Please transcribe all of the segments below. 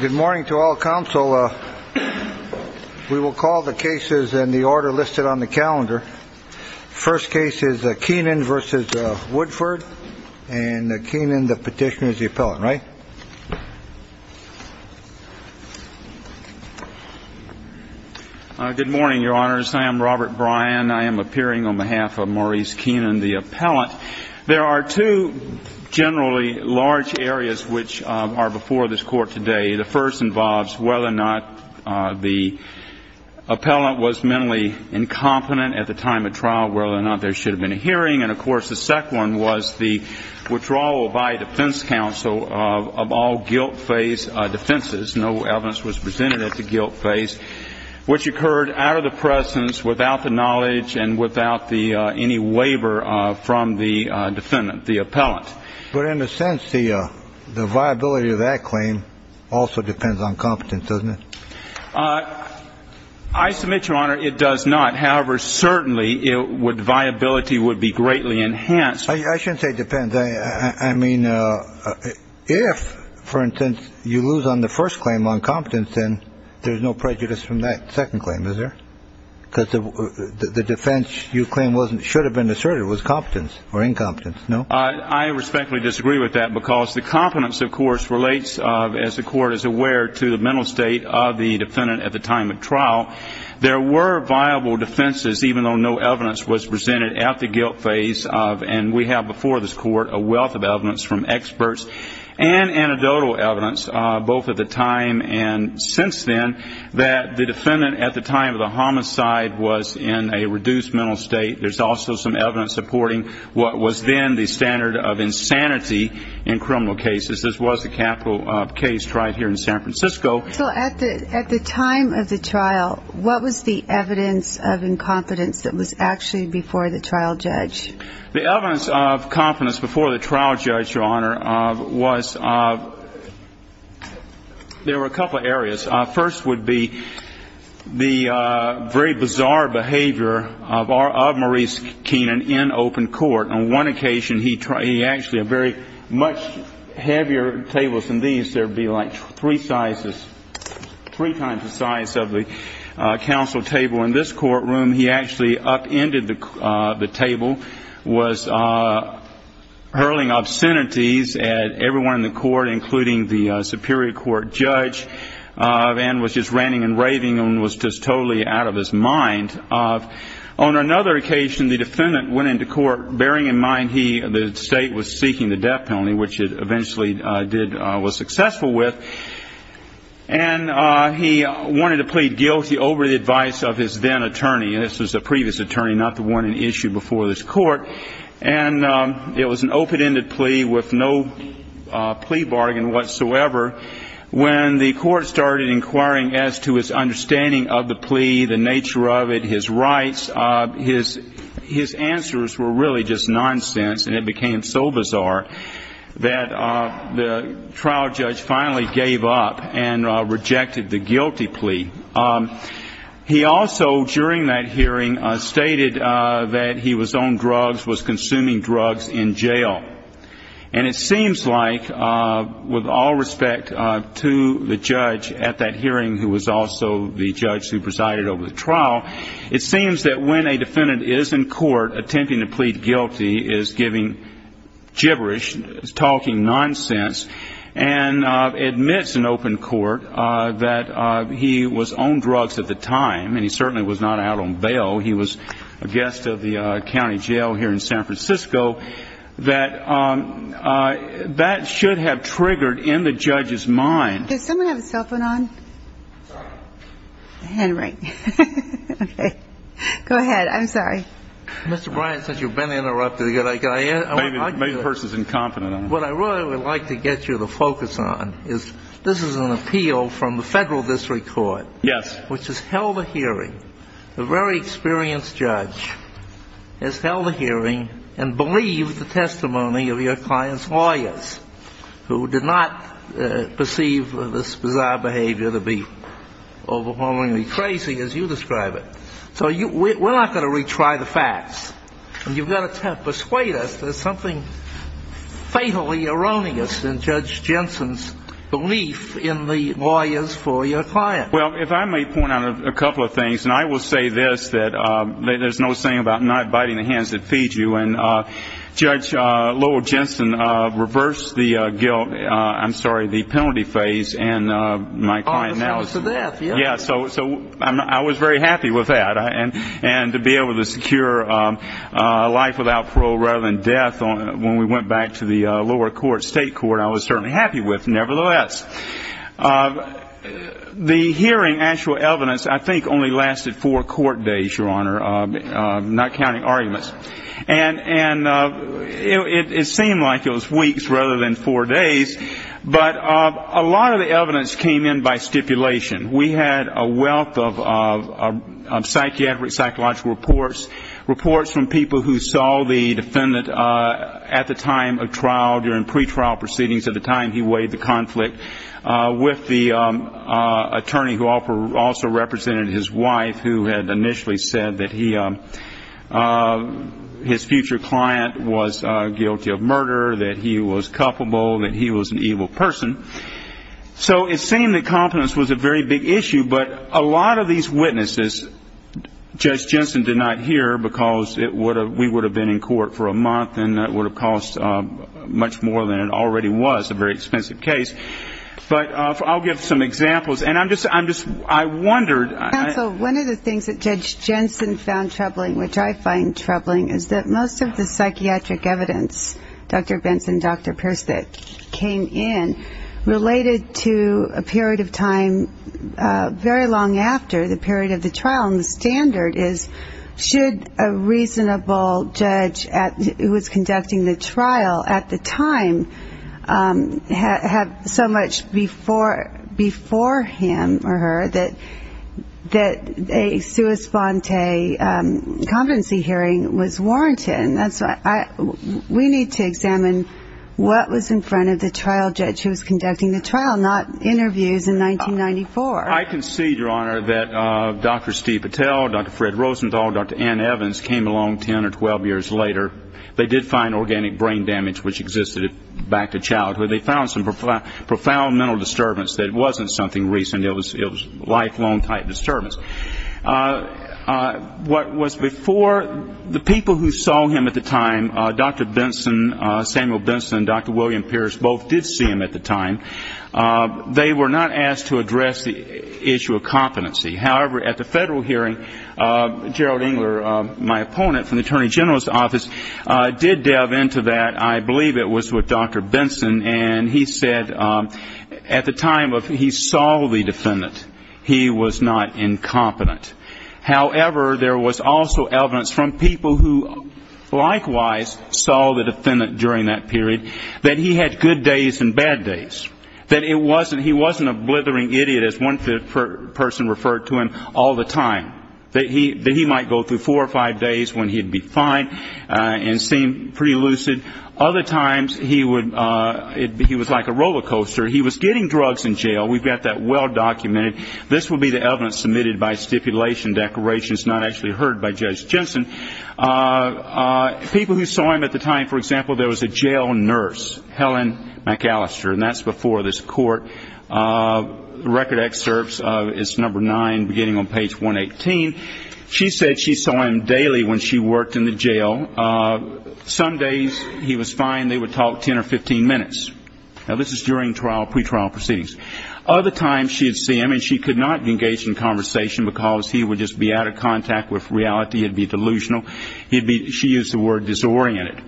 Good morning to all counsel. We will call the cases in the order listed on the calendar. First case is Keenan v. Woodford. And Keenan, the petitioner, is the appellant, right? Good morning, Your Honors. I am Robert Bryan. I am appearing on behalf of Maurice Keenan, the appellant. There are two generally large areas which are before this Court today. The first involves whether or not the appellant was mentally incompetent at the time of trial, whether or not there should have been a hearing. And, of course, the second one was the withdrawal by defense counsel of all guilt-faced defenses. No evidence was presented at the guilt phase, which occurred out of the presence, without the knowledge and without any waiver from the defendant, the appellant. But in a sense, the viability of that claim also depends on competence, doesn't it? I submit, Your Honor, it does not. However, certainly, viability would be greatly enhanced. I shouldn't say depends. I mean, if, for instance, you lose on the first claim on competence, then there's no prejudice from that second claim, is there? Because the defense you claim shouldn't have been asserted was competence or incompetence, no? I respectfully disagree with that because the competence, of course, relates, as the Court is aware, to the mental state of the defendant at the time of trial. There were viable defenses, even though no evidence was presented at the guilt phase. And we have before this Court a wealth of evidence from experts and anecdotal evidence, both at the time and since then, that the defendant at the time of the homicide was in a reduced mental state. There's also some evidence supporting what was then the standard of insanity in criminal cases. This was the capital case tried here in San Francisco. So at the time of the trial, what was the evidence of incompetence that was actually before the trial judge? The evidence of competence before the trial judge, Your Honor, was there were a couple areas. First would be the very bizarre behavior of Maurice Keenan in open court. On one occasion, he actually had very much heavier tables than these. There would be like three sizes, three times the size of the counsel table in this courtroom. He actually upended the table, was hurling obscenities at everyone in the court, including the superior court judge, and was just ranting and raving and was just totally out of his mind. On another occasion, the defendant went into court bearing in mind the state was seeking the death penalty, which it eventually was successful with, and he wanted to plead guilty over the advice of his then attorney. This was a previous attorney, not the one in issue before this court. And it was an open-ended plea with no plea bargain whatsoever. When the court started inquiring as to his understanding of the plea, the nature of it, his rights, his answers were really just nonsense, and it became so bizarre that the trial judge finally gave up and rejected the guilty plea. He also, during that hearing, stated that he was on drugs, was consuming drugs in jail. And it seems like, with all respect to the judge at that hearing who was also the judge who presided over the trial, it seems that when a defendant is in court attempting to plead guilty, is giving gibberish, is talking nonsense, and admits in open court that he was on drugs at the time, and he certainly was not out on bail, he was a guest of the county jail here in San Francisco, that that should have triggered in the judge's mind. Does someone have a cell phone on? Henry. Okay. Go ahead. I'm sorry. Mr. Bryant, since you've been interrupted, can I ask you a question? Maybe the person's incompetent. What I really would like to get you to focus on is this is an appeal from the federal district court. Yes. Which has held a hearing. The very experienced judge has held a hearing and believed the testimony of your client's lawyers, who did not perceive this bizarre behavior to be overwhelmingly crazy, as you describe it. So we're not going to retry the facts. You've got to persuade us there's something fatally erroneous in Judge Jensen's belief in the lawyers for your client. Well, if I may point out a couple of things, and I will say this, that there's no saying about not biting the hands that feed you. And Judge Lowell Jensen reversed the guilt ‑‑ I'm sorry, the penalty phase, and my client now is ‑‑ Oh, the sentence of death. Yeah. So I was very happy with that. And to be able to secure life without parole rather than death, when we went back to the lower court, state court, I was certainly happy with nevertheless. The hearing actual evidence I think only lasted four court days, Your Honor, not counting arguments. And it seemed like it was weeks rather than four days. But a lot of the evidence came in by stipulation. We had a wealth of psychiatric, psychological reports, reports from people who saw the defendant at the time of trial, during pretrial proceedings, at the time he weighed the conflict, with the attorney who also represented his wife who had initially said that his future client was guilty of murder, that he was culpable, that he was an evil person. So it seemed that confidence was a very big issue. But a lot of these witnesses Judge Jensen did not hear because we would have been in court for a month and it would have cost much more than it already was, a very expensive case. But I'll give some examples. And I'm just, I wondered. Counsel, one of the things that Judge Jensen found troubling, which I find troubling, is that most of the psychiatric evidence, Dr. Benson, Dr. Pierce, that came in, related to a period of time very long after the period of the trial. And the standard is, should a reasonable judge who was conducting the trial at the time have so much before him or her that a sua sponte competency hearing was warranted? We need to examine what was in front of the trial judge who was conducting the trial, not interviews in 1994. I can see, Your Honor, that Dr. Steve Patel, Dr. Fred Rosenthal, Dr. Ann Evans came along 10 or 12 years later. They did find organic brain damage, which existed back to childhood. They found some profound mental disturbance that wasn't something recent. It was lifelong type disturbance. What was before, the people who saw him at the time, Dr. Benson, Samuel Benson, Dr. William Pierce, both did see him at the time. They were not asked to address the issue of competency. However, at the federal hearing, Gerald Engler, my opponent from the Attorney General's office, did delve into that. I believe it was with Dr. Benson, and he said at the time he saw the defendant, he was not incompetent. However, there was also evidence from people who likewise saw the defendant during that period, that he had good days and bad days. That he wasn't a blithering idiot, as one person referred to him all the time. That he might go through four or five days when he'd be fine and seem pretty lucid. Other times, he was like a roller coaster. He was getting drugs in jail. We've got that well documented. This would be the evidence submitted by stipulation declarations not actually heard by Judge Jensen. People who saw him at the time, for example, there was a jail nurse, Helen McAllister, and that's before this court. Record excerpts, it's number nine, beginning on page 118. She said she saw him daily when she worked in the jail. Some days he was fine. They would talk 10 or 15 minutes. Now, this is during trial, pretrial proceedings. Other times she'd see him and she could not engage in conversation because he would just be out of contact with reality. He'd be delusional. She used the word disoriented.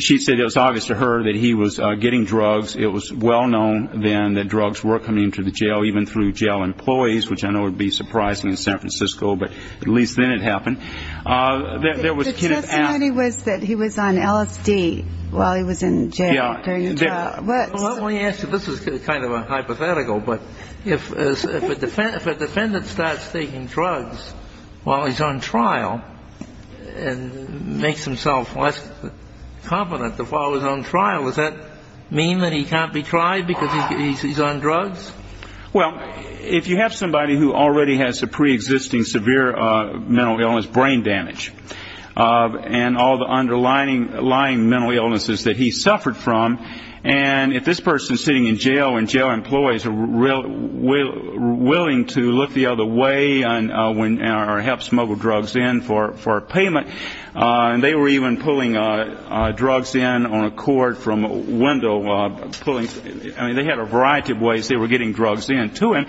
She said it was obvious to her that he was getting drugs. It was well known then that drugs were coming into the jail, even through jail employees, which I know would be surprising in San Francisco, but at least then it happened. The testimony was that he was on LSD while he was in jail during the trial. Let me ask you, this is kind of a hypothetical, but if a defendant starts taking drugs while he's on trial and makes himself less competent to follow his own trial, does that mean that he can't be tried because he's on drugs? Well, if you have somebody who already has a preexisting severe mental illness, brain damage, and all the underlying mental illnesses that he suffered from, and if this person is sitting in jail and jail employees are willing to look the other way or help smuggle drugs in for a payment, and they were even pulling drugs in on a cord from a window, I mean, they had a variety of ways they were getting drugs in to him.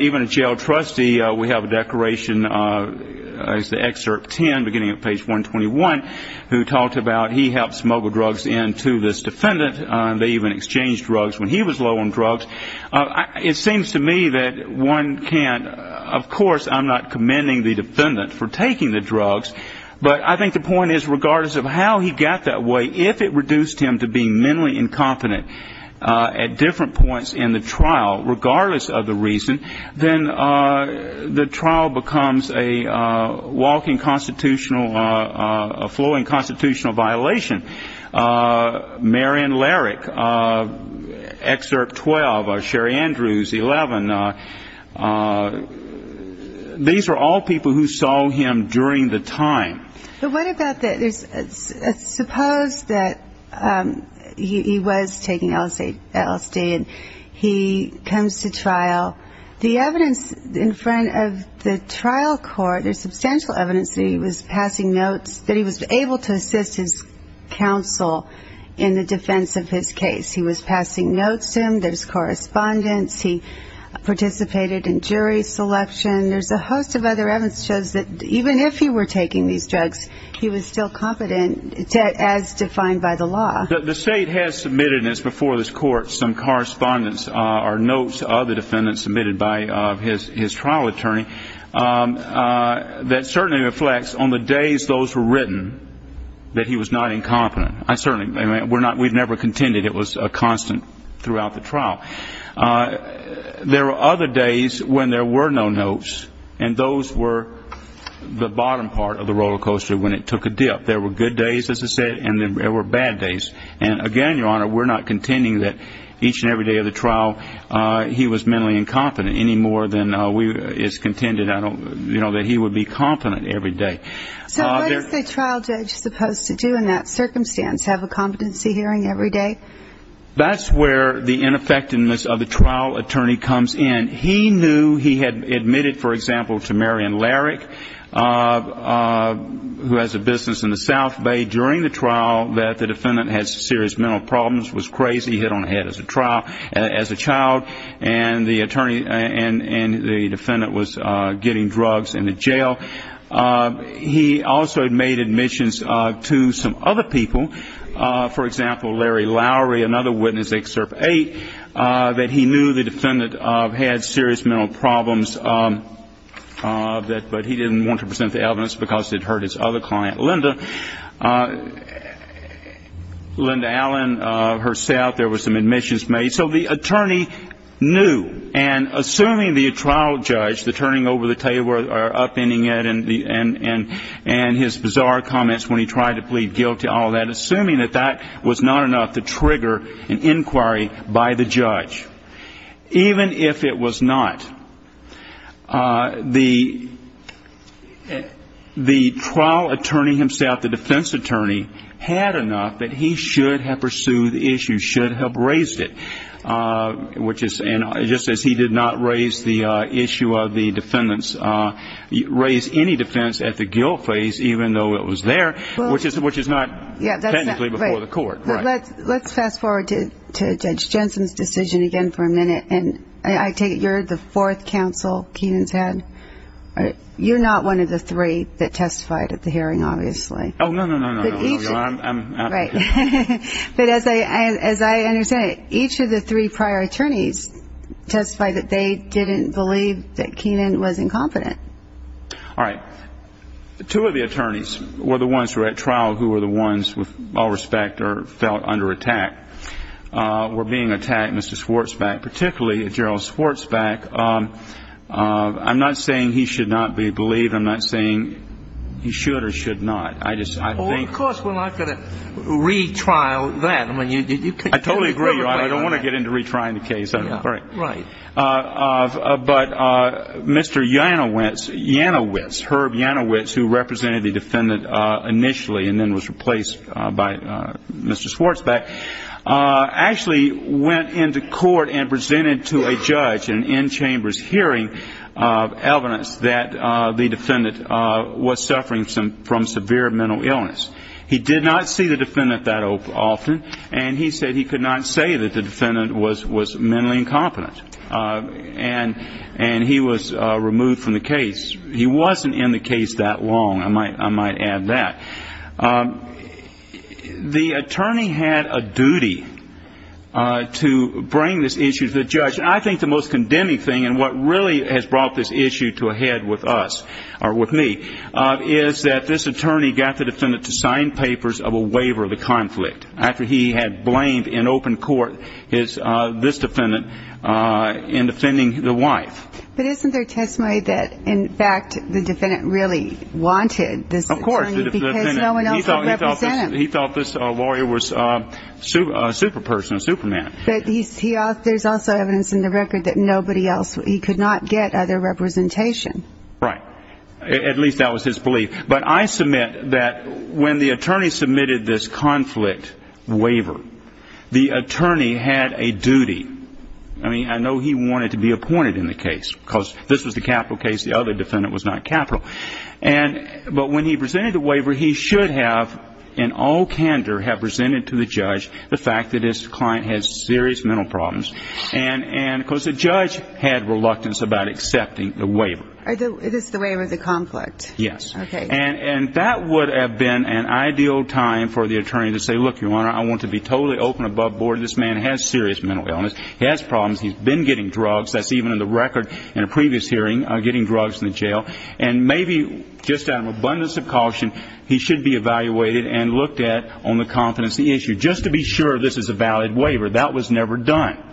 Even a jail trustee, we have a declaration in Excerpt 10, beginning at page 121, who talked about he helped smuggle drugs in to this defendant. They even exchanged drugs when he was low on drugs. It seems to me that one can't, of course I'm not commending the defendant for taking the drugs, but I think the point is regardless of how he got that way, if it reduced him to being mentally incompetent at different points in the trial, regardless of the reason, then the trial becomes a walking constitutional, a flowing constitutional violation. Marion Larrick, Excerpt 12, Sherry Andrews, 11, these are all people who saw him during the time. But what about the, suppose that he was taking LSD and he comes to trial, the evidence in front of the trial court, there's substantial evidence that he was passing notes, that he was able to assist his counsel in the defense of his case. He was passing notes to him, there's correspondence, he participated in jury selection, there's a host of other evidence that shows that even if he were taking these drugs, he was still competent as defined by the law. The state has submitted, and it's before this court, some correspondence or notes of the defendant submitted by his trial attorney, that certainly reflects on the days those were written that he was not incompetent. We've never contended it was a constant throughout the trial. There were other days when there were no notes, and those were the bottom part of the roller coaster when it took a dip. There were good days, as I said, and there were bad days. And, again, Your Honor, we're not contending that each and every day of the trial he was mentally incompetent any more than it's contended that he would be competent every day. So what is the trial judge supposed to do in that circumstance, have a competency hearing every day? That's where the ineffectiveness of the trial attorney comes in. He knew he had admitted, for example, to Marion Larrick, who has a business in the South Bay, during the trial that the defendant had serious mental problems, was crazy, hit on the head as a child, and the defendant was getting drugs in the jail. He also had made admissions to some other people, for example, Larry Lowry, another witness, Excerpt 8, that he knew the defendant had serious mental problems, but he didn't want to present the evidence because it hurt his other client, Linda, Linda Allen, herself. There were some admissions made. So the attorney knew, and assuming the trial judge, the turning over the table or upending it and his bizarre comments when he tried to plead guilty, all that, assuming that that was not enough to trigger an inquiry by the judge, even if it was not, the trial attorney himself, the defense attorney, had enough that he should have pursued the issue, should have raised it, just as he did not raise the issue of the defendant's, raise any defense at the guilt phase, even though it was there, which is not technically before the court. Let's fast forward to Judge Jensen's decision again for a minute. And I take it you're the fourth counsel Kenan's had. You're not one of the three that testified at the hearing, obviously. Oh, no, no, no, no, no. Right. But as I understand it, each of the three prior attorneys testified that they didn't believe that Kenan was incompetent. All right. Two of the attorneys were the ones who were at trial who were the ones, with all respect, felt under attack, were being attacked, Mr. Schwartzbeck, particularly Gerald Schwartzbeck. I'm not saying he should not be believed. I'm not saying he should or should not. Well, of course we're not going to retrial that. I totally agree. I don't want to get into retrying the case. All right. Right. But Mr. Janowitz, Herb Janowitz, who represented the defendant initially and then was replaced by Mr. Schwartzbeck, actually went into court and presented to a judge in an in-chambers hearing evidence that the defendant was suffering from severe mental illness. He did not see the defendant that often, and he said he could not say that the defendant was mentally incompetent. And he was removed from the case. He wasn't in the case that long, I might add that. The attorney had a duty to bring this issue to the judge. I think the most condemning thing and what really has brought this issue to a head with us or with me is that this attorney got the defendant to sign papers of a waiver of the conflict after he had blamed in open court this defendant in defending the wife. But isn't there testimony that, in fact, the defendant really wanted this attorney? Of course. Because no one else would represent him. He thought this lawyer was a super person, a super man. But there's also evidence in the record that nobody else. He could not get other representation. Right. At least that was his belief. But I submit that when the attorney submitted this conflict waiver, the attorney had a duty. I mean, I know he wanted to be appointed in the case because this was the capital case. The other defendant was not capital. But when he presented the waiver, he should have in all candor have presented to the judge the fact that this client has serious mental problems. And, of course, the judge had reluctance about accepting the waiver. It is the waiver of the conflict. Yes. Okay. And that would have been an ideal time for the attorney to say, look, Your Honor, I want to be totally open above board. This man has serious mental illness. He has problems. He's been getting drugs. That's even in the record in a previous hearing, getting drugs in the jail. And maybe just out of an abundance of caution, he should be evaluated and looked at on the confidence of the issue just to be sure this is a valid waiver. That was never done.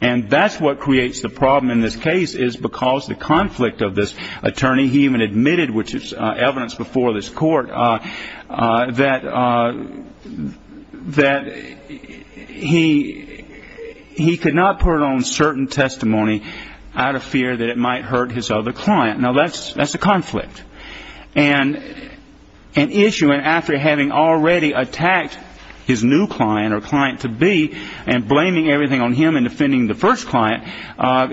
And that's what creates the problem in this case is because the conflict of this attorney, he even admitted, which is evidence before this court, that he could not put on certain testimony out of fear that it might hurt his other client. Now, that's a conflict. And an issue, and after having already attacked his new client or client-to-be and blaming everything on him and defending the first client,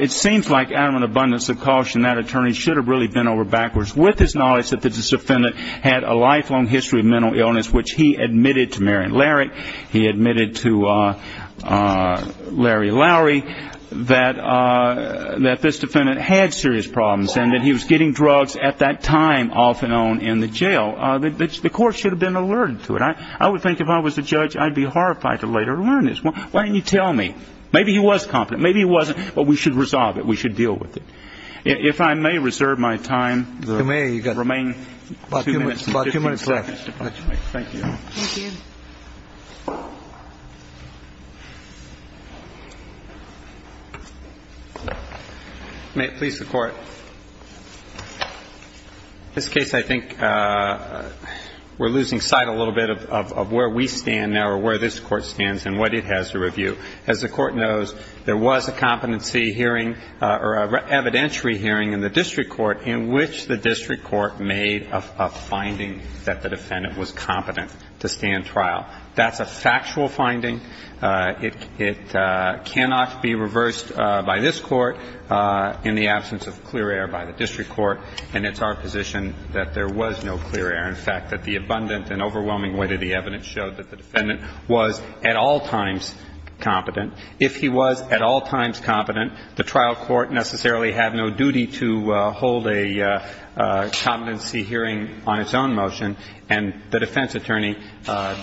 it seems like out of an abundance of caution that attorney should have really bent over backwards with his knowledge that this defendant had a lifelong history of mental illness, which he admitted to Marion Larrick, he admitted to Larry Lowery, that this defendant had serious problems and that he was getting drugs at that time off and on in the jail. The court should have been alerted to it. I would think if I was the judge I'd be horrified to later learn this. Why didn't you tell me? Maybe he was confident. Maybe he wasn't. But we should resolve it. We should deal with it. If I may reserve my time. You may. Remain two minutes. About two minutes left. Thank you. Thank you. May it please the Court. This case I think we're losing sight a little bit of where we stand now or where this Court stands and what it has to review. As the Court knows, there was a competency hearing or evidentiary hearing in the district court in which the district court made a finding that the defendant was competent to stand trial. That's a factual finding. It cannot be reversed by this Court in the absence of clear air by the district court, and it's our position that there was no clear air, in fact that the abundant and overwhelming weight of the evidence showed that the defendant was at all times competent. If he was at all times competent, the trial court necessarily had no duty to hold a competency hearing on its own motion, and the defense attorney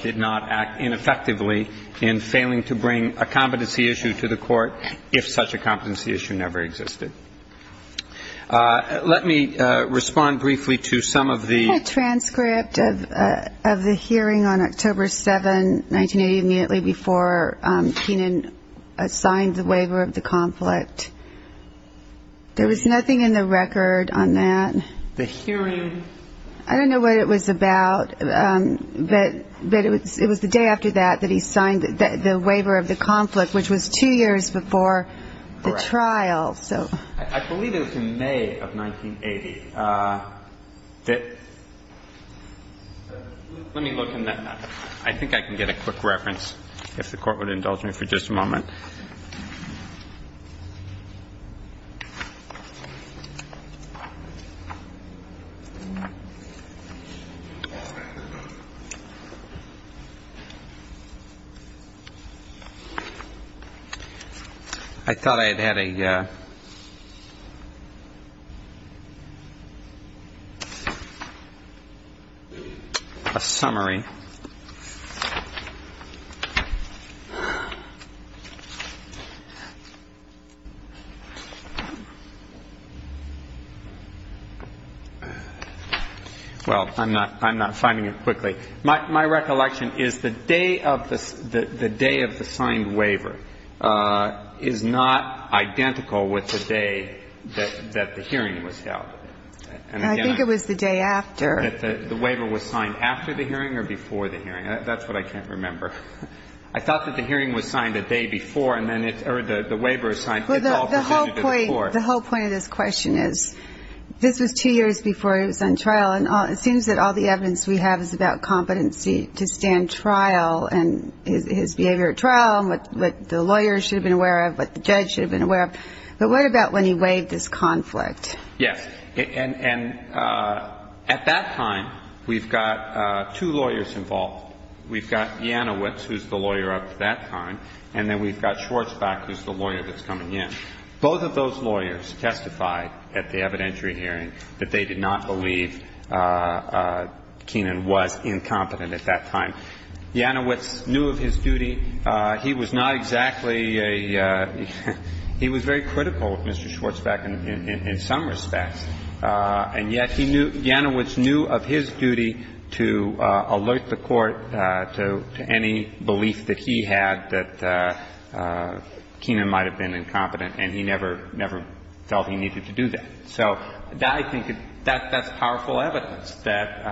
did not act ineffectively in failing to bring a competency issue to the court if such a competency issue never existed. Let me respond briefly to some of the ---- I have a transcript of the hearing on October 7, 1980, immediately before Keenan signed the waiver of the conflict. There was nothing in the record on that. The hearing ---- I don't know what it was about, but it was the day after that that he signed the waiver of the conflict, which was two years before the trial. I believe it was in May of 1980. Let me look in the ---- I think I can get a quick reference if the Court would indulge me for just a moment. I thought I had had a summary. Well, I'm not finding it quickly. My recollection is the day of the ---- the day of the signed waiver is not identical with the day that the hearing was held. And again, I ---- I think it was the day after. The waiver was signed after the hearing or before the hearing? That's what I can't remember. I thought that the hearing was signed the day before, and then it's ---- or the waiver is signed ---- The whole point of this question is this was two years before he was on trial, and it seems that all the evidence we have is about competency to stand trial and his behavior at trial and what the lawyers should have been aware of, what the judge should have been aware of. But what about when he waived this conflict? Yes. And at that time, we've got two lawyers involved. We've got Janowitz, who's the lawyer up to that time, and then we've got Schwartzbeck, who's the lawyer that's coming in. Both of those lawyers testified at the evidentiary hearing that they did not believe Keenan was incompetent at that time. Janowitz knew of his duty. He was not exactly a ---- in some respects. And yet he knew ---- Janowitz knew of his duty to alert the Court to any belief that he had that Keenan might have been incompetent, and he never, never felt he needed to do that. So I think that's powerful evidence that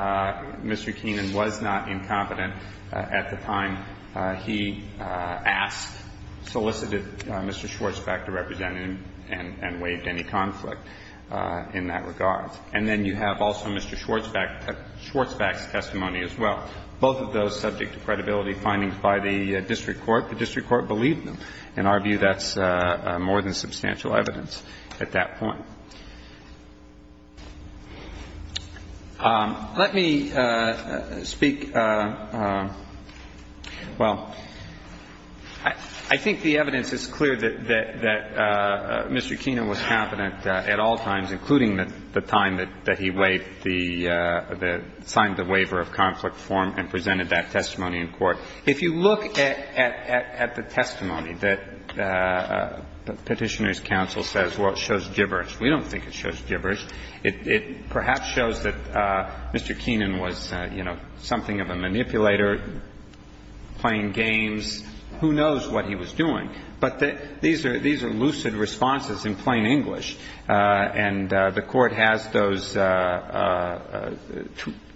Mr. Keenan was not incompetent at the time he asked, solicited Mr. Schwartzbeck to represent him and waived any conflict. In that regard. And then you have also Mr. Schwartzbeck's testimony as well. Both of those subject to credibility findings by the district court. The district court believed them. In our view, that's more than substantial evidence at that point. Let me speak ---- well, I think the evidence is clear that Mr. Keenan was competent at all times, including the time that he waived the ---- signed the waiver of conflict form and presented that testimony in court. If you look at the testimony that Petitioner's counsel says, well, it shows gibberish, we don't think it shows gibberish. It perhaps shows that Mr. Keenan was, you know, something of a manipulator, playing games. Who knows what he was doing? But these are lucid responses in plain English. And the Court has those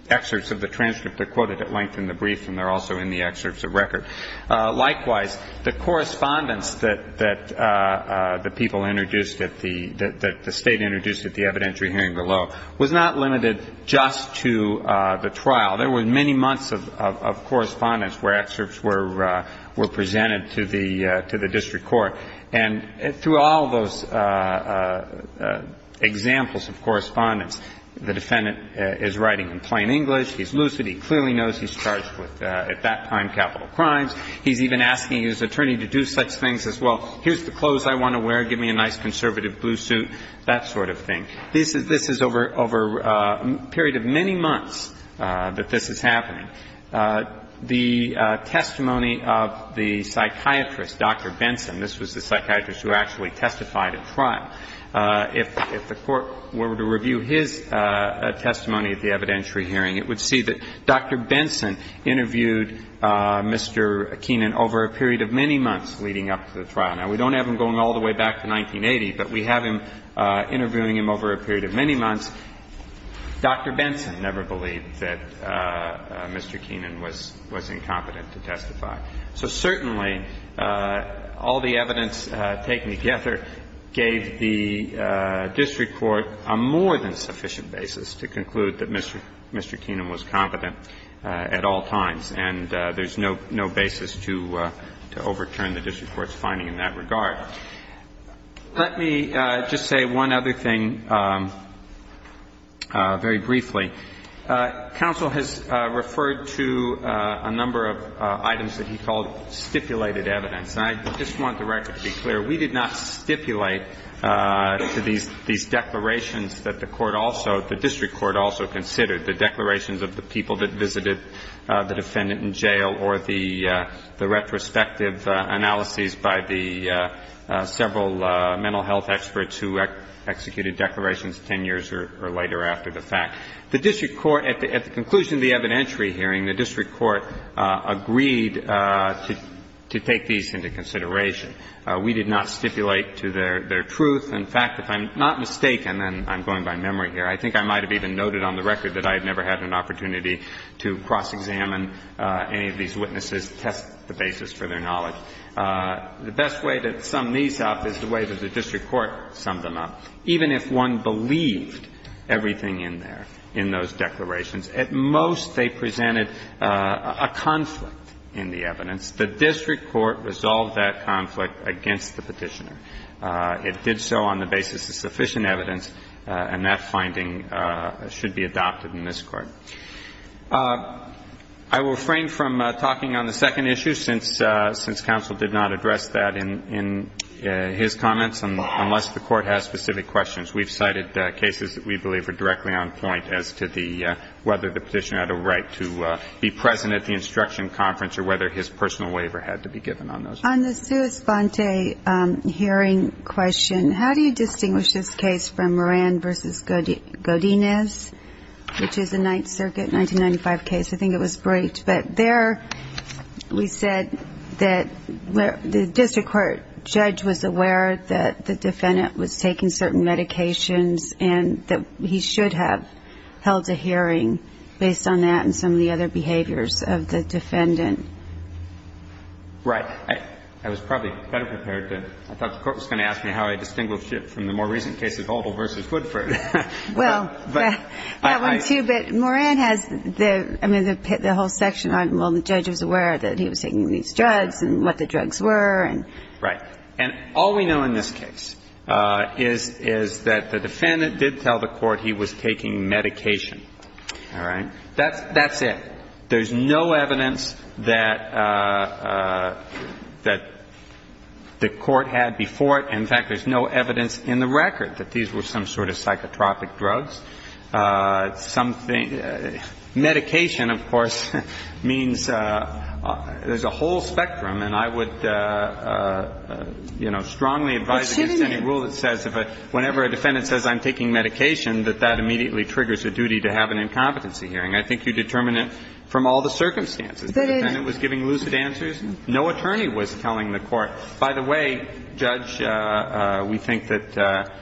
excerpts of the transcript. They're quoted at length in the brief and they're also in the excerpts of record. Likewise, the correspondence that the people introduced at the ---- that the State introduced at the evidentiary hearing below was not limited just to the trial. There were many months of correspondence where excerpts were presented to the district court. And through all those examples of correspondence, the defendant is writing in plain English. He's lucid. He clearly knows he's charged with, at that time, capital crimes. He's even asking his attorney to do such things as, well, here's the clothes I want to wear. Give me a nice conservative blue suit, that sort of thing. This is over a period of many months that this is happening. The testimony of the psychiatrist, Dr. Benson, this was the psychiatrist who actually testified at trial, if the Court were to review his testimony at the evidentiary hearing, it would see that Dr. Benson interviewed Mr. Keenan over a period of many months leading up to the trial. Now, we don't have him going all the way back to 1980, but we have him interviewing him over a period of many months. Dr. Benson never believed that Mr. Keenan was incompetent to testify. So certainly, all the evidence taken together gave the district court a more than sufficient basis to conclude that Mr. Keenan was competent at all times. And there's no basis to overturn the district court's finding in that regard. Let me just say one other thing very briefly. Counsel has referred to a number of items that he called stipulated evidence. And I just want the record to be clear. We did not stipulate these declarations that the court also, the district court also or the retrospective analyses by the several mental health experts who executed declarations 10 years or later after the fact. The district court, at the conclusion of the evidentiary hearing, the district court agreed to take these into consideration. We did not stipulate to their truth. In fact, if I'm not mistaken, and I'm going by memory here, I think I might have even noted on the record that I had never had an opportunity to cross-examine any of these witnesses, test the basis for their knowledge. The best way to sum these up is the way that the district court summed them up. Even if one believed everything in there, in those declarations, at most they presented a conflict in the evidence. The district court resolved that conflict against the Petitioner. It did so on the basis of sufficient evidence, and that finding should be adopted in this Court. I will refrain from talking on the second issue, since counsel did not address that in his comments, unless the Court has specific questions. We've cited cases that we believe are directly on point as to the whether the Petitioner had a right to be present at the instruction conference or whether his personal waiver had to be given on those. On the sua sponte hearing question, how do you distinguish this case from Moran v. Godinez, which is a Ninth Circuit 1995 case? I think it was breached, but there we said that the district court judge was aware that the defendant was taking certain medications and that he should have held a hearing based on that and some of the other behaviors of the defendant. Right. I was probably better prepared to – I thought the Court was going to ask me how I distinguish it from the more recent cases, Oldham v. Hoodford. Well, that one, too, but Moran has the – I mean, the whole section on, well, the judge was aware that he was taking these drugs and what the drugs were and – Right. And all we know in this case is that the defendant did tell the Court he was taking medication. All right? That's it. There's no evidence that the Court had before it. In fact, there's no evidence in the record that these were some sort of psychotropic drugs. Something – medication, of course, means there's a whole spectrum, and I would, you know, strongly advise against any rule that says if a – whenever a defendant says I'm taking medication, that that immediately triggers a duty to have an incompetency hearing. I think you determine it from all the circumstances. The defendant was giving lucid answers. No attorney was telling the Court, by the way, Judge, we think that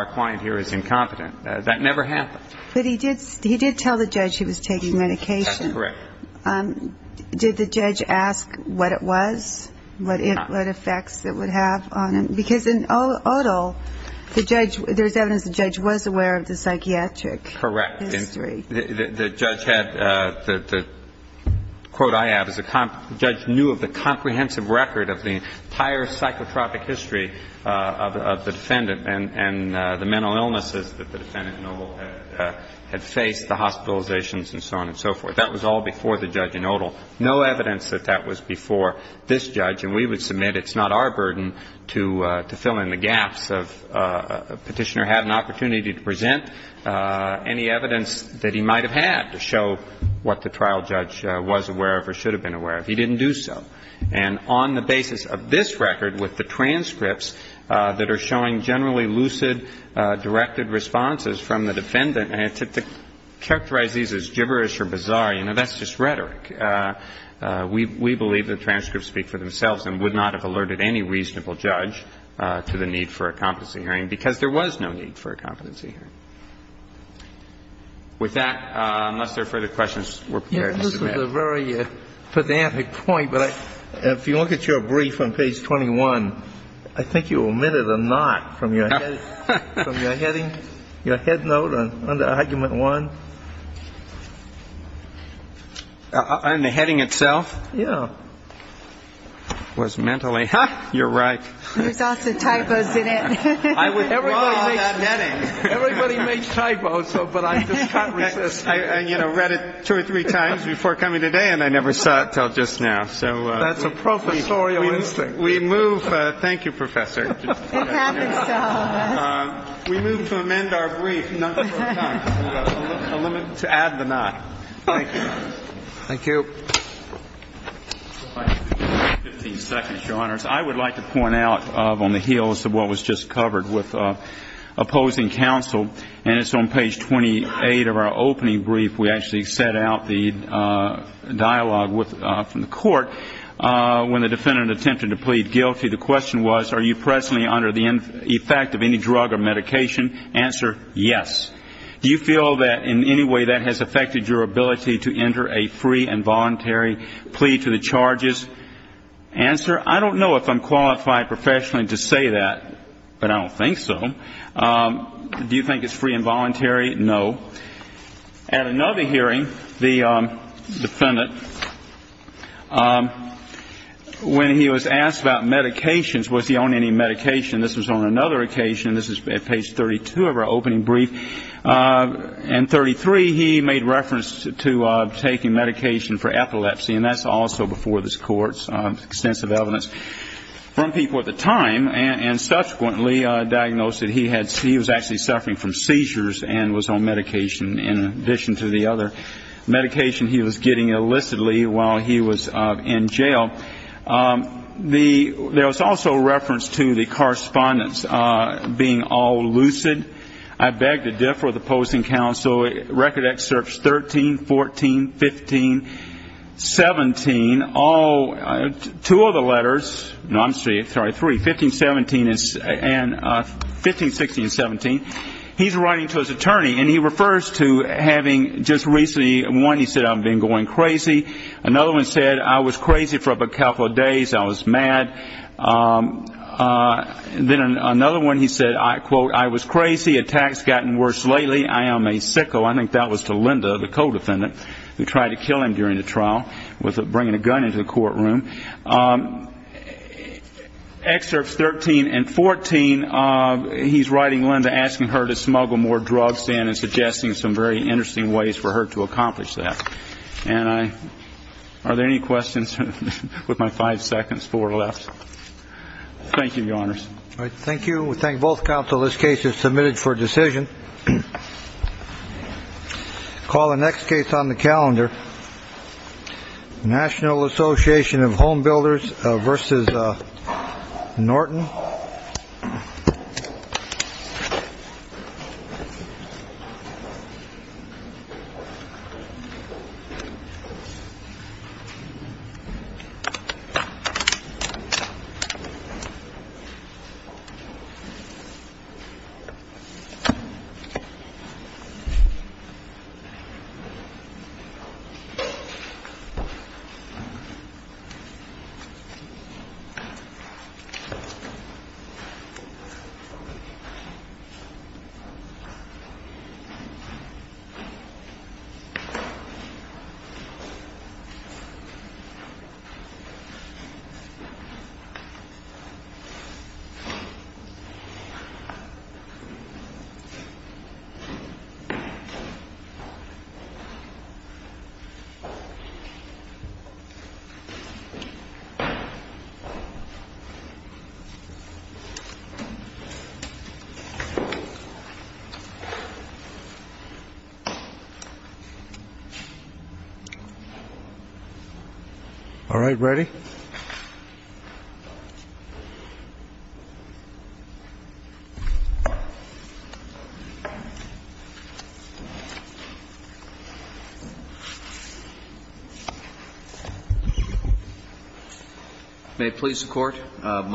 our client here is incompetent. That never happened. But he did – he did tell the judge he was taking medication. That's correct. Did the judge ask what it was? No. What effects it would have on him? Because in Odell, the judge – there's evidence the judge was aware of the psychiatric history. Correct. The judge had – the quote I have is the judge knew of the comprehensive record of the entire psychotropic history of the defendant and the mental illnesses that the defendant, in Odell, had faced, the hospitalizations and so on and so forth. That was all before the judge in Odell. No evidence that that was before this judge. And we would submit it's not our burden to fill in the gaps. But the judge did not, in the absence of petitioner, have an opportunity to present any evidence that he might have had to show what the trial judge was aware of or should have been aware of. He didn't do so. And on the basis of this record, with the transcripts that are showing generally lucid, directed responses from the defendant, to characterize these as gibberish or bizarre, you know, that's just rhetoric. We believe the transcripts speak for themselves and would not have alerted any reasonable judge to the need for a competency hearing because there was no need for a competency hearing. With that, unless there are further questions, we're prepared to submit. Yes, this is a very pedantic point, but if you look at your brief on page 21, I think you omitted a not from your heading, your headnote on argument one. And the heading itself. Yeah. Was mentally. You're right. There's also typos in it. Everybody makes typos. But I read it two or three times before coming today, and I never saw it till just now. So that's a professorial instinct. We move. Thank you, Professor. We move to amend our brief. To add the not. Thank you. Thank you. 15 seconds, Your Honors. I would like to point out on the heels of what was just covered with opposing counsel, and it's on page 28 of our opening brief. We actually set out the dialogue from the court when the defendant attempted to plead guilty. The question was, are you presently under the effect of any drug or medication? Answer, yes. Do you feel that in any way that has affected your ability to enter a free and voluntary plea to the charges? Answer, I don't know if I'm qualified professionally to say that, but I don't think so. Do you think it's free and voluntary? No. At another hearing, the defendant, when he was asked about medications, was he on any medication? This was on another occasion. This is at page 32 of our opening brief. In 33, he made reference to taking medication for epilepsy, and that's also before this Court's extensive evidence from people at the time, and subsequently diagnosed that he was actually suffering from seizures and was on medication in addition to the other medication he was getting illicitly while he was in jail. There was also reference to the correspondence being all lucid. I beg to differ with opposing counsel. Record excerpts 13, 14, 15, 17, all two of the letters, no, I'm sorry, three, 15, 16 and 17. He's writing to his attorney, and he refers to having just recently, one, he said, I've been going crazy. Another one said, I was crazy for a couple of days. I was mad. Then another one, he said, I quote, I was crazy. Attacks have gotten worse lately. I am a sicko. I think that was to Linda, the co-defendant who tried to kill him during the trial with bringing a gun into the courtroom. Excerpts 13 and 14, he's writing Linda, asking her to smuggle more drugs in and suggesting some very interesting ways for her to accomplish that. And are there any questions? With my five seconds, four left. Thank you, Your Honors. Thank you. We thank both counsel. This case is submitted for decision. Call the next case on the calendar. Thank you. All right, ready? May it please the Court.